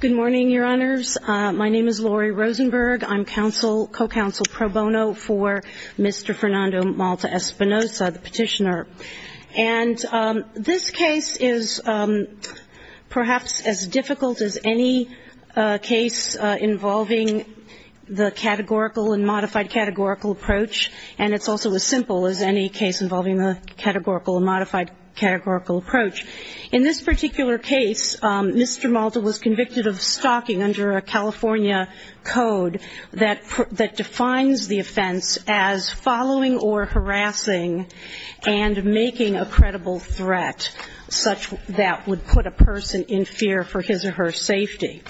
Good morning, Your Honors. My name is Lori Rosenberg. I'm co-counsel pro bono for Mr. Fernando Malta-Espinoza, the petitioner. And this case is perhaps as difficult as any case involving the categorical and modified categorical approach. And it's also as simple as any case involving the categorical and modified categorical approach. In this particular case, Mr. Malta was convicted of stalking under a California code that defines the offense as following or harassing and making a credible threat such that would put a person in fear for his or her safety.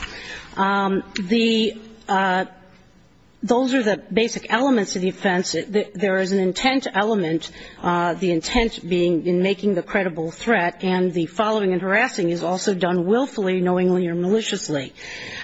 Those are the basic elements of the offense. There is an intent element, the intent being in making the credible threat. And the following and harassing is also done willfully, knowingly or maliciously.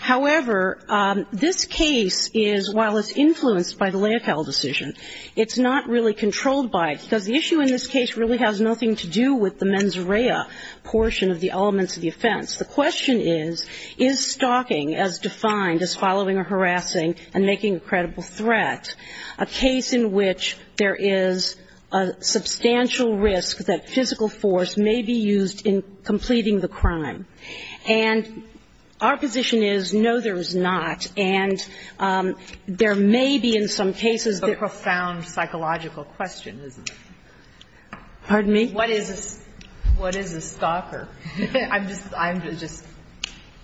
However, this case is, while it's influenced by the Leocal decision, it's not really controlled by it, because the issue in this case really has nothing to do with the mens rea portion of the elements of the offense. The question is, is stalking as defined as following or harassing and making a credible threat a case in which there is a substantial risk that physical force may be used in completing the crime? And our position is, no, there is not. And there may be in some cases that the profound psychological question is. Pardon me? What is a stalker? I'm just, I'm just.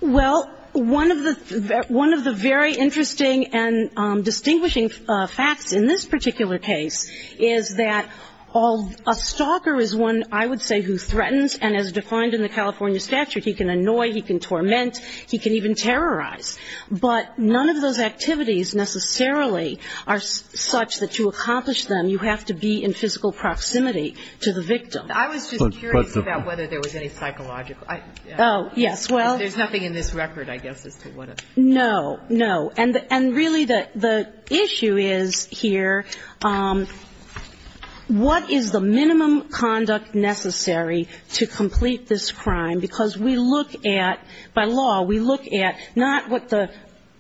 Well, one of the, one of the very interesting and distinguishing facts in this particular case is that all, a stalker is one, I would say, who threatens, and as defined in the California statute, he can annoy, he can torment, he can even terrorize. But none of those activities necessarily are such that to accomplish them, you have to be in physical proximity to the victim. I was just curious about whether there was any psychological. Oh, yes. Well. There's nothing in this record, I guess, as to what a. No, no. And really the issue is here, what is the minimum conduct necessary to complete this crime, because we look at, by law, we look at not what the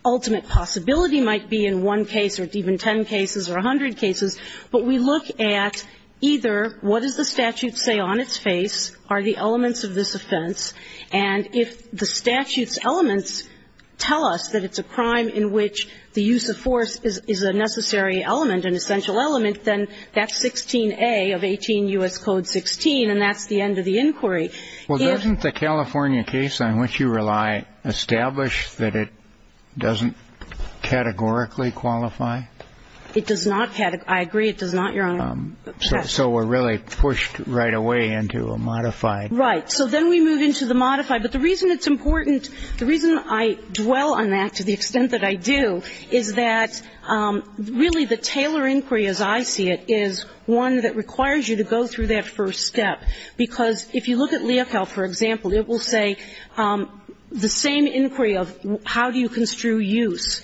ultimate possibility might be in one case or even ten cases or a hundred cases, but we look at either what does the statute say on its face, are the elements of this offense, and if the statute's elements tell us that it's a crime in which the use of force is a necessary element, an essential element, then that's 16A of 18 U.S. Code 16, and that's the end of the inquiry. Well, doesn't the California case on which you rely establish that it doesn't categorically qualify? So we're really pushed right away into a modified. Right. So then we move into the modified. But the reason it's important, the reason I dwell on that to the extent that I do, is that really the Taylor inquiry as I see it is one that requires you to go through that first step, because if you look at Leocal, for example, it will say the same inquiry of how do you construe use,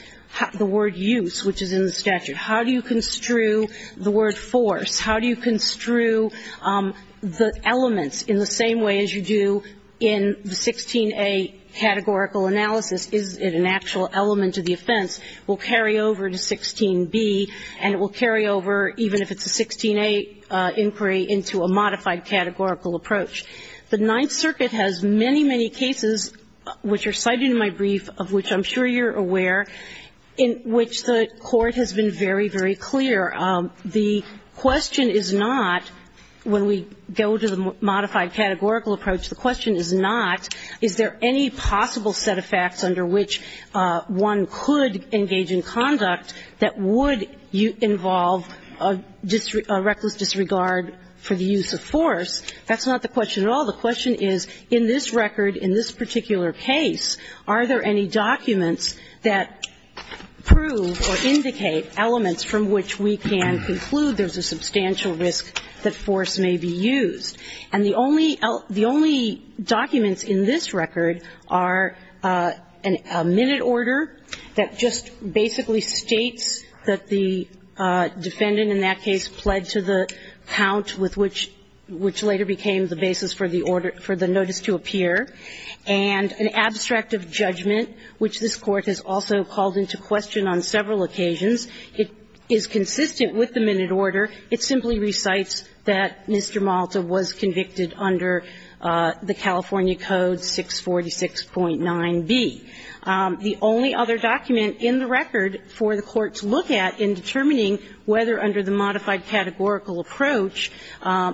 the word use, which is in the statute, how do you construe the word force, how do you construe the elements in the same way as you do in the 16A categorical analysis, is it an actual element of the offense, will carry over to 16B, and it will carry over even if it's a 16A inquiry into a modified categorical approach. The Ninth Circuit has many, many cases which are cited in my brief, of which I'm sure you're aware, in which the Court has been very, very clear. The question is not, when we go to the modified categorical approach, the question is not is there any possible set of facts under which one could engage in conduct that would involve a reckless disregard for the use of force. That's not the question at all. The question is in this record, in this particular case, are there any documents that prove or indicate elements from which we can conclude there's a substantial risk that force may be used. And the only documents in this record are a minute order that just basically states that the defendant in that case pled to the count with which later became the basis for the order, for the notice to appear, and an abstract of judgment, which this Court has also called into question on several occasions. It is consistent with the minute order. It simply recites that Mr. Malta was convicted under the California Code 646.9b. The only other document in the record for the Court to look at in determining whether under the modified categorical approach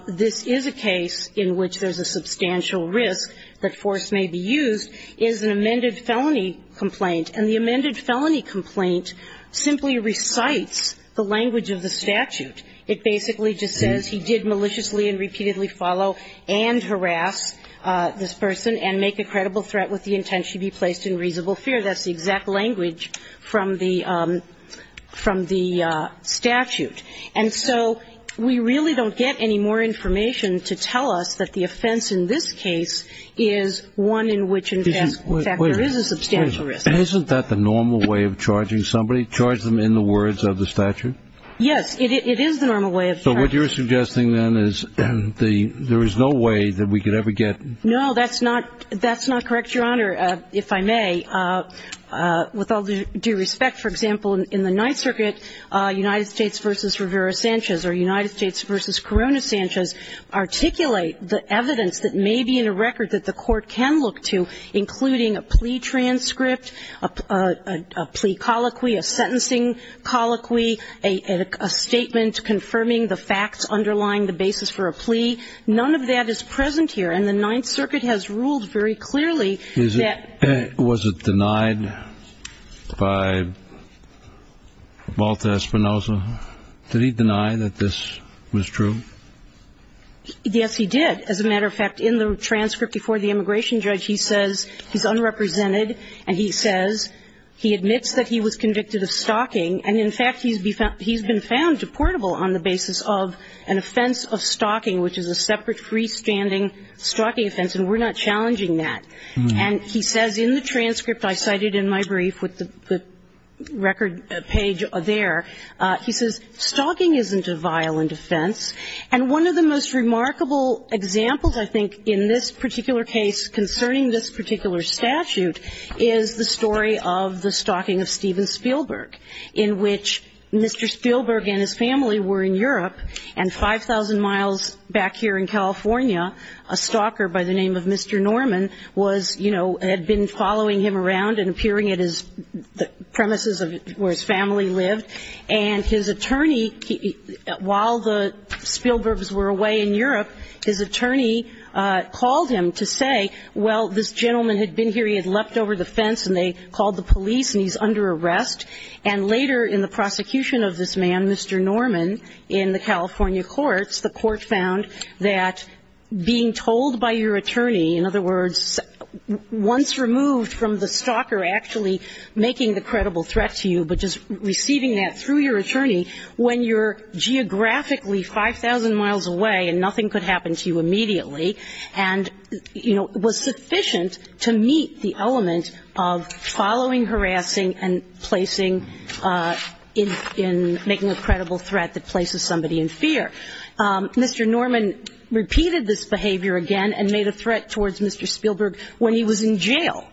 this is a case in which there's a substantial risk that force may be used is an amended felony complaint. And the amended felony complaint simply recites the language of the statute. It basically just says he did maliciously and repeatedly follow and harass this person and make a credible threat with the intent she be placed in reasonable fear. That's the exact language from the statute. And so we really don't get any more information to tell us that the offense in this case is one in which, in fact, there is a substantial risk. Isn't that the normal way of charging somebody, charge them in the words of the statute? Yes. It is the normal way of charging. So what you're suggesting, then, is there is no way that we could ever get? No, that's not correct, Your Honor, if I may. With all due respect, for example, in the Ninth Circuit, United States v. Rivera-Sanchez or United States v. Corona-Sanchez articulate the evidence that may be in a record that the Court can look to, including a plea transcript, a plea colloquy, a sentencing colloquy, a statement confirming the facts underlying the basis for a plea. None of that is present here. And the Ninth Circuit has ruled very clearly that ---- Was it denied by Walter Espinoza? Did he deny that this was true? Yes, he did. As a matter of fact, in the transcript before the immigration judge, he says he's unrepresented, and he says he admits that he was convicted of stalking. And, in fact, he's been found deportable on the basis of an offense of stalking, which is a separate freestanding stalking offense, and we're not challenging that. And he says in the transcript I cited in my brief with the record page there, he says, stalking isn't a violent offense. And one of the most remarkable examples, I think, in this particular case concerning this particular statute is the story of the stalking of Steven Spielberg, in which Mr. Spielberg and his family were in Europe, and 5,000 miles back here in California, a stalker by the name of Mr. Norman was, you know, had been following him around and appearing at his premises where his family lived. And his attorney, while the Spielbergs were away in Europe, his attorney called him to say, well, this gentleman had been here, he had leapt over the fence, and they called the police, and he's under arrest. And later in the prosecution of this man, Mr. Norman, in the California courts, the court found that being told by your attorney, in other words, once removed from the stalker actually making the credible threat to you, but just receiving that through your attorney, when you're geographically 5,000 miles away and nothing could happen to you immediately, and, you know, was sufficient to meet the element of following, harassing, and placing in making a credible threat that places somebody in fear. Mr. Norman repeated this behavior again and made a threat towards Mr. Spielberg when he was in jail.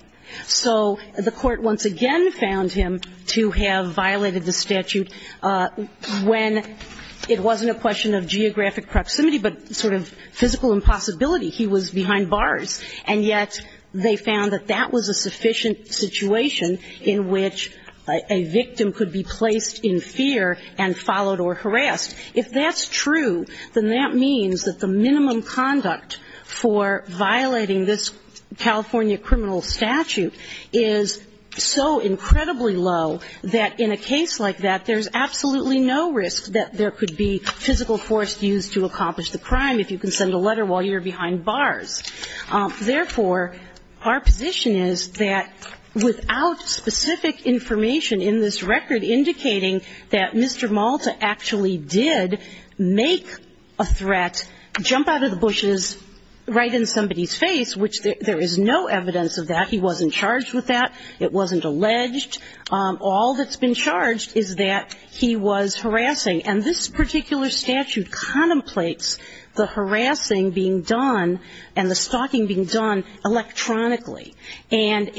So the court once again found him to have violated the statute when it wasn't a question of geographic proximity, but sort of physical impossibility. He was behind bars, and yet they found that that was a sufficient situation in which a victim could be placed in fear and followed or harassed. If that's true, then that means that the minimum conduct for violating this California criminal statute is so incredibly low that in a case like that, there's absolutely no risk that there could be physical force used to accomplish the crime. If you can send a letter while you're behind bars. Therefore, our position is that without specific information in this record indicating that Mr. Malta actually did make a threat, jump out of the bushes right in somebody's face, which there is no evidence of that. He wasn't charged with that. It wasn't alleged. All that's been charged is that he was harassing. And this particular statute contemplates the harassing being done and the stalking being done electronically. And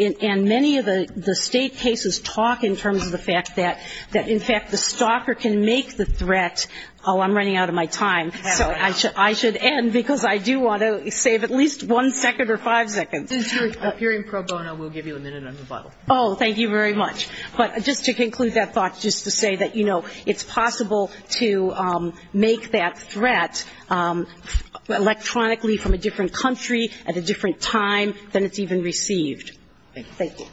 many of the State cases talk in terms of the fact that, in fact, the stalker can make the threat. Oh, I'm running out of my time. So I should end because I do want to save at least one second or five seconds. MS. GOTTLIEB Oh, thank you very much. But just to conclude that thought, just to say that, you know, it's possible to make that threat electronically from a different country at a different time than it's even received. Thank you. MR. GARGANO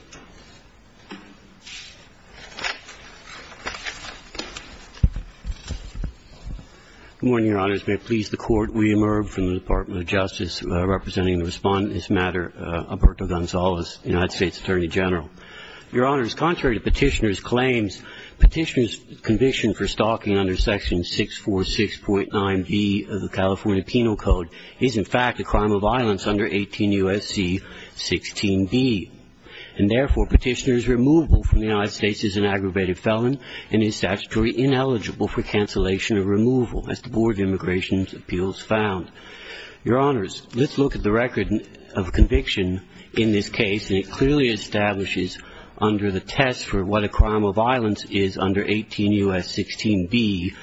Good morning, Your Honors. May it please the Court, we emerge from the Department of Justice representing the Respondent in this matter, Alberto Gonzalez, United States Attorney General. Your Honors, contrary to Petitioner's claims, Petitioner's conviction for stalking under Section 646.9b of the California Penal Code is, in fact, a crime of violence under 18 U.S.C. 16b. And therefore, Petitioner's removal from the United States is an aggravated felon and is statutorily ineligible for cancellation or removal, as the Board of Immigration's appeals found. Your Honors, let's look at the record of conviction in this case, and it clearly establishes under the test for what a crime of violence is under 18 U.S. 16b,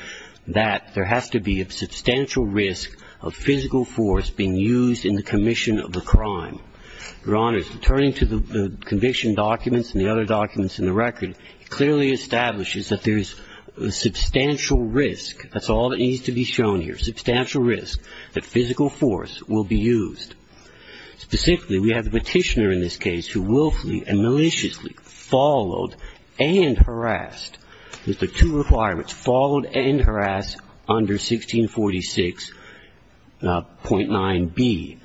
that there has to be a substantial risk of physical force being used in the commission of the crime. Your Honors, returning to the conviction documents and the other documents in the record, it clearly establishes that there is substantial risk, that's all that needs to be shown here, substantial risk, that physical force will be used. Specifically, we have the Petitioner in this case who willfully and maliciously followed and harassed. There's the two requirements, followed and harassed under 1646.9b.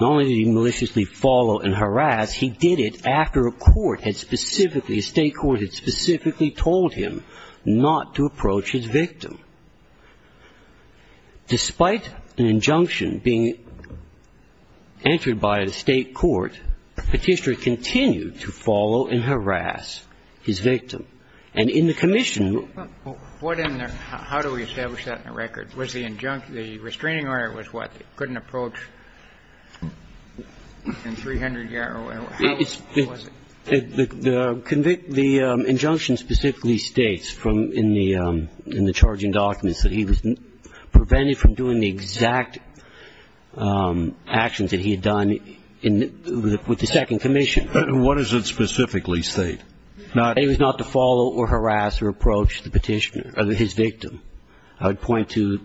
Not only did he maliciously follow and harass, he did it after a court had specifically, a state court had specifically told him not to approach his victim. Despite an injunction being entered by the state court, Petitioner continued to follow and harass his victim. And in the commission, what in there, how do we establish that in the record? Was the injunction, the restraining order was what? It couldn't approach in 300 yards? How was it? The injunction specifically states in the charging documents that he was prevented from doing the exact actions that he had done with the second commission. What does it specifically state? It was not to follow or harass or approach the Petitioner or his victim. I would point to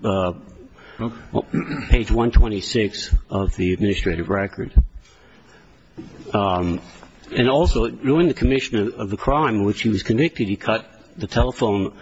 page 126 of the administrative record. And also, during the commission of the crime in which he was convicted, he cut the telephone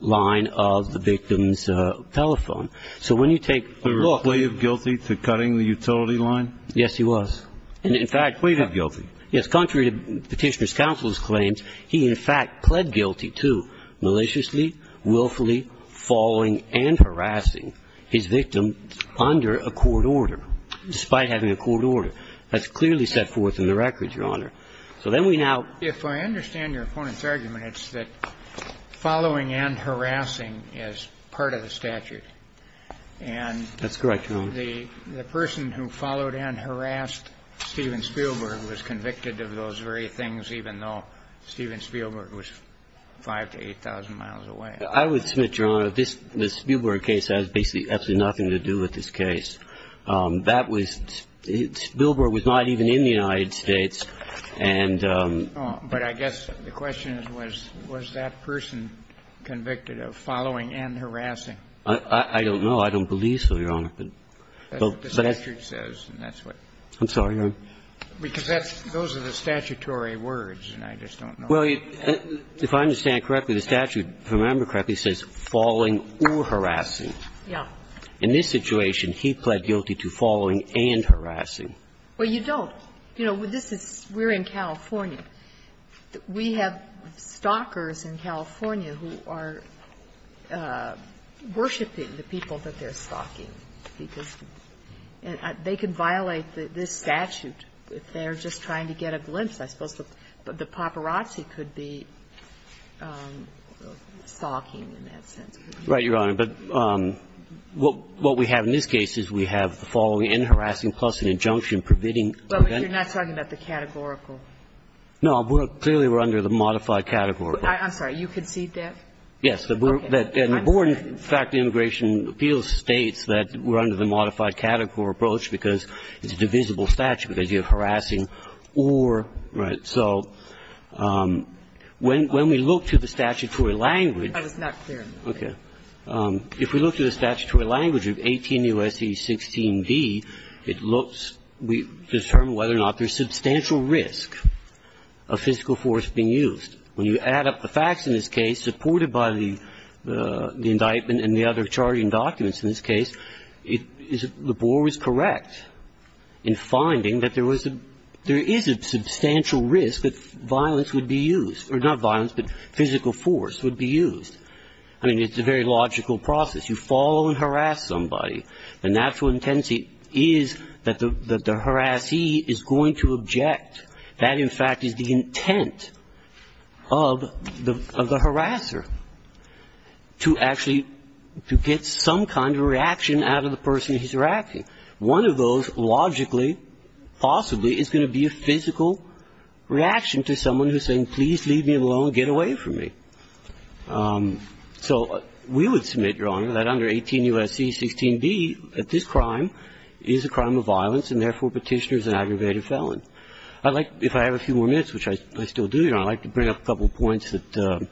line of the victim's telephone. So when you take a look. Was he pleaded guilty to cutting the utility line? Yes, he was. And in fact. Pleaded guilty. Yes. Contrary to Petitioner's counsel's claims, he in fact pled guilty to maliciously, willfully following and harassing his victim under a court order, despite having a court order. That's clearly set forth in the record, Your Honor. So then we now. If I understand your opponent's argument, it's that following and harassing is part of the statute. And. That's correct, Your Honor. The person who followed and harassed Steven Spielberg was convicted of those very things, even though Steven Spielberg was 5,000 to 8,000 miles away. I would submit, Your Honor, this Spielberg case has basically absolutely nothing to do with this case. That was. Spielberg was not even in the United States. And. But I guess the question is, was that person convicted of following and harassing? I don't know. I don't believe so, Your Honor. That's what the statute says, and that's what. I'm sorry, Your Honor. Because that's. Those are the statutory words, and I just don't know. Well, if I understand correctly, the statute, if I remember correctly, says falling or harassing. Yes. In this situation, he pled guilty to following and harassing. Well, you don't. You know, this is we're in California. We have stalkers in California who are worshiping the people that they're stalking, because they could violate this statute if they're just trying to get a glimpse. I suppose the paparazzi could be stalking in that sense. Right, Your Honor. But what we have in this case is we have the following, in harassing plus an injunction permitting. But you're not talking about the categorical. No. Clearly, we're under the modified categorical. I'm sorry. You concede that? Yes. Okay. I'm sorry. The Board of Immigration Appeals states that we're under the modified categorical approach because it's a divisible statute, because you have harassing or. Right. So when we look to the statutory language. That is not clear. Okay. If we look to the statutory language of 18 U.S.C. 16b, it looks, we determine whether or not there's substantial risk of physical force being used. When you add up the facts in this case supported by the indictment and the other charging documents in this case, the board was correct in finding that there is a substantial risk that violence would be used, or not violence, but physical force would be used. I mean, it's a very logical process. You follow and harass somebody. The natural intensity is that the harassee is going to object. That, in fact, is the intent of the harasser, to actually, to get some kind of reaction out of the person he's harassing. One of those logically, possibly, is going to be a physical reaction to someone who's saying, please leave me alone, get away from me. So we would submit, Your Honor, that under 18 U.S.C. 16b, that this crime is a crime of violence and therefore Petitioner is an aggravated felon. I'd like, if I have a few more minutes, which I still do, Your Honor, I'd like to bring up a couple of points that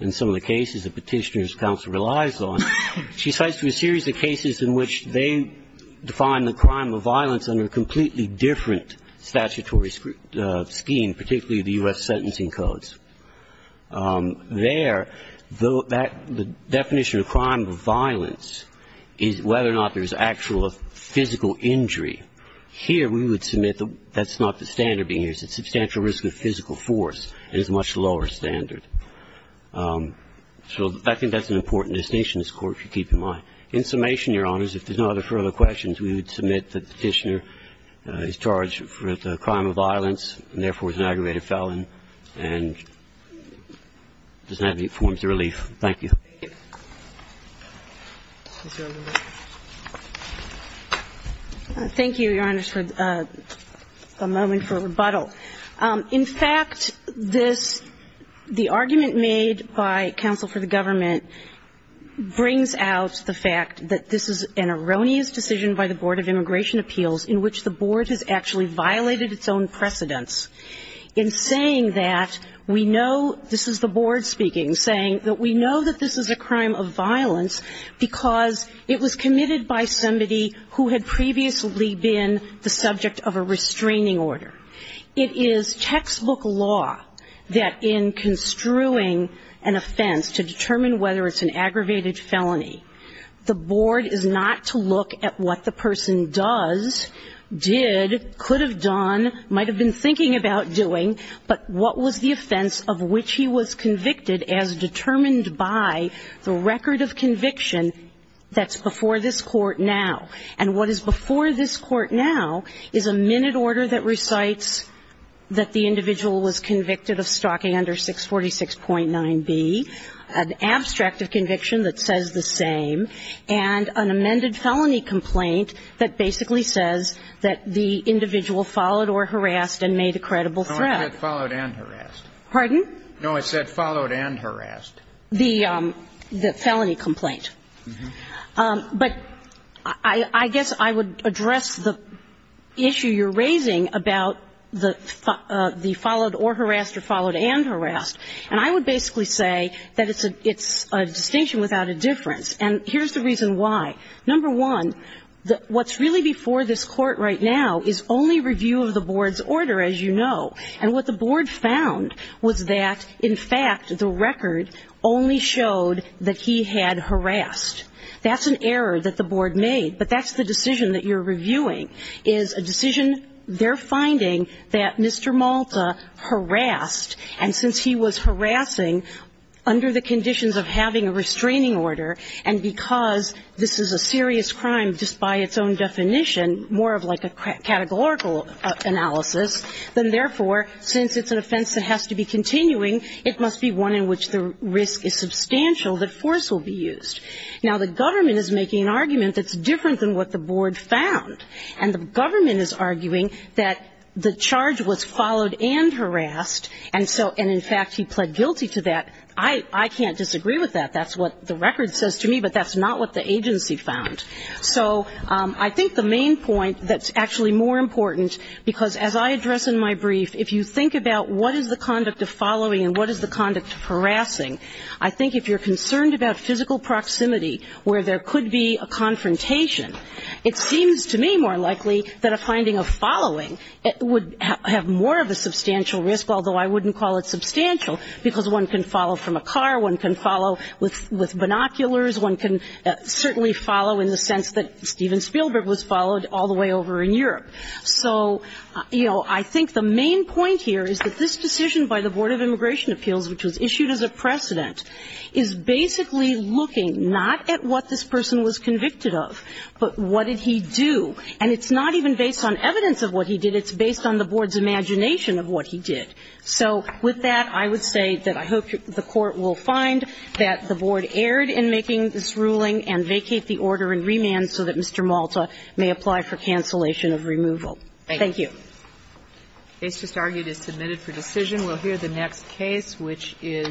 in some of the cases that Petitioner's counsel relies on. She cites a series of cases in which they define the crime of violence under a completely different statutory scheme, particularly the U.S. sentencing codes. There, the definition of crime of violence is whether or not there's actual physical injury. Here, we would submit that's not the standard being used. It's substantial risk of physical force, and it's a much lower standard. So I think that's an important distinction in this Court, if you keep in mind. In summation, Your Honors, if there's no further questions, we would submit that Petitioner is charged with a crime of violence and therefore is an aggravated felon, and does not meet forms of relief. MS. GOTTLIEB Thank you, Your Honors, for a moment for rebuttal. In fact, this, the argument made by counsel for the government brings out the fact that this is an erroneous decision by the Board of Immigration Appeals in which the Board has actually violated its own precedents in saying that we know this is the Board speaking, saying that we know that this is a crime of violence because it was committed by somebody who had previously been the subject of a restraining order. It is textbook law that in construing an offense to determine whether it's an aggravated felony, the Board is not to look at what the person does, did, could have done, might have been thinking about doing, but what was the offense of which he was convicted as determined by the record of conviction that's before this Court now. And what is before this Court now is a minute order that recites that the individual was convicted of stalking under 646.9b, an abstract of conviction that says the same, and an amended felony complaint that basically says that the individual followed or harassed and made a credible threat. MR. GOTTLIEB No, it said followed and harassed. MS. GOTTLIEB Pardon? MR. GOTTLIEB No, it said followed and harassed. MS. GOTTLIEB The felony complaint. MR. GOTTLIEB Uh-huh. MS. GOTTLIEB But I guess I would address the issue you're raising about the follow or harassed or followed and harassed, and I would basically say that it's a distinction without a difference, and here's the reason why. Number one, what's really before this Court right now is only review of the Board's order, as you know, and what the Board found was that, in fact, the record only showed that he had harassed. That's an error that the Board made, but that's the decision that you're reviewing is a decision they're finding that Mr. Malta harassed, and since he was harassing under the conditions of having a restraining order, and because this is a serious crime just by its own definition, more of like a categorical analysis, then therefore, since it's an offense that has to be continuing, it must be one in which the risk is substantial that force will be used. Now, the government is making an argument that's different than what the Board found, and the government is arguing that the charge was followed and harassed, and in fact, he pled guilty to that. I can't disagree with that. That's what the record says to me, but that's not what the agency found. So I think the main point that's actually more important, because as I address in my brief, if you think about what is the conduct of following and what is the conduct of harassing, I think if you're concerned about physical proximity where there could be a confrontation, it seems to me more likely that a finding of following would have more of a substantial risk, although I wouldn't call it substantial, because one can follow from a car. One can follow with binoculars. One can certainly follow in the sense that Steven Spielberg was followed all the way over in Europe. So, you know, I think the main point here is that this decision by the Board of Immigration Appeals, which was not at what this person was convicted of, but what did he do. And it's not even based on evidence of what he did. It's based on the Board's imagination of what he did. So with that, I would say that I hope the Court will find that the Board erred in making this ruling and vacate the order in remand so that Mr. Malta may apply for cancellation of removal. Thank you. They just argued it's submitted for decision. We'll hear the next case, which is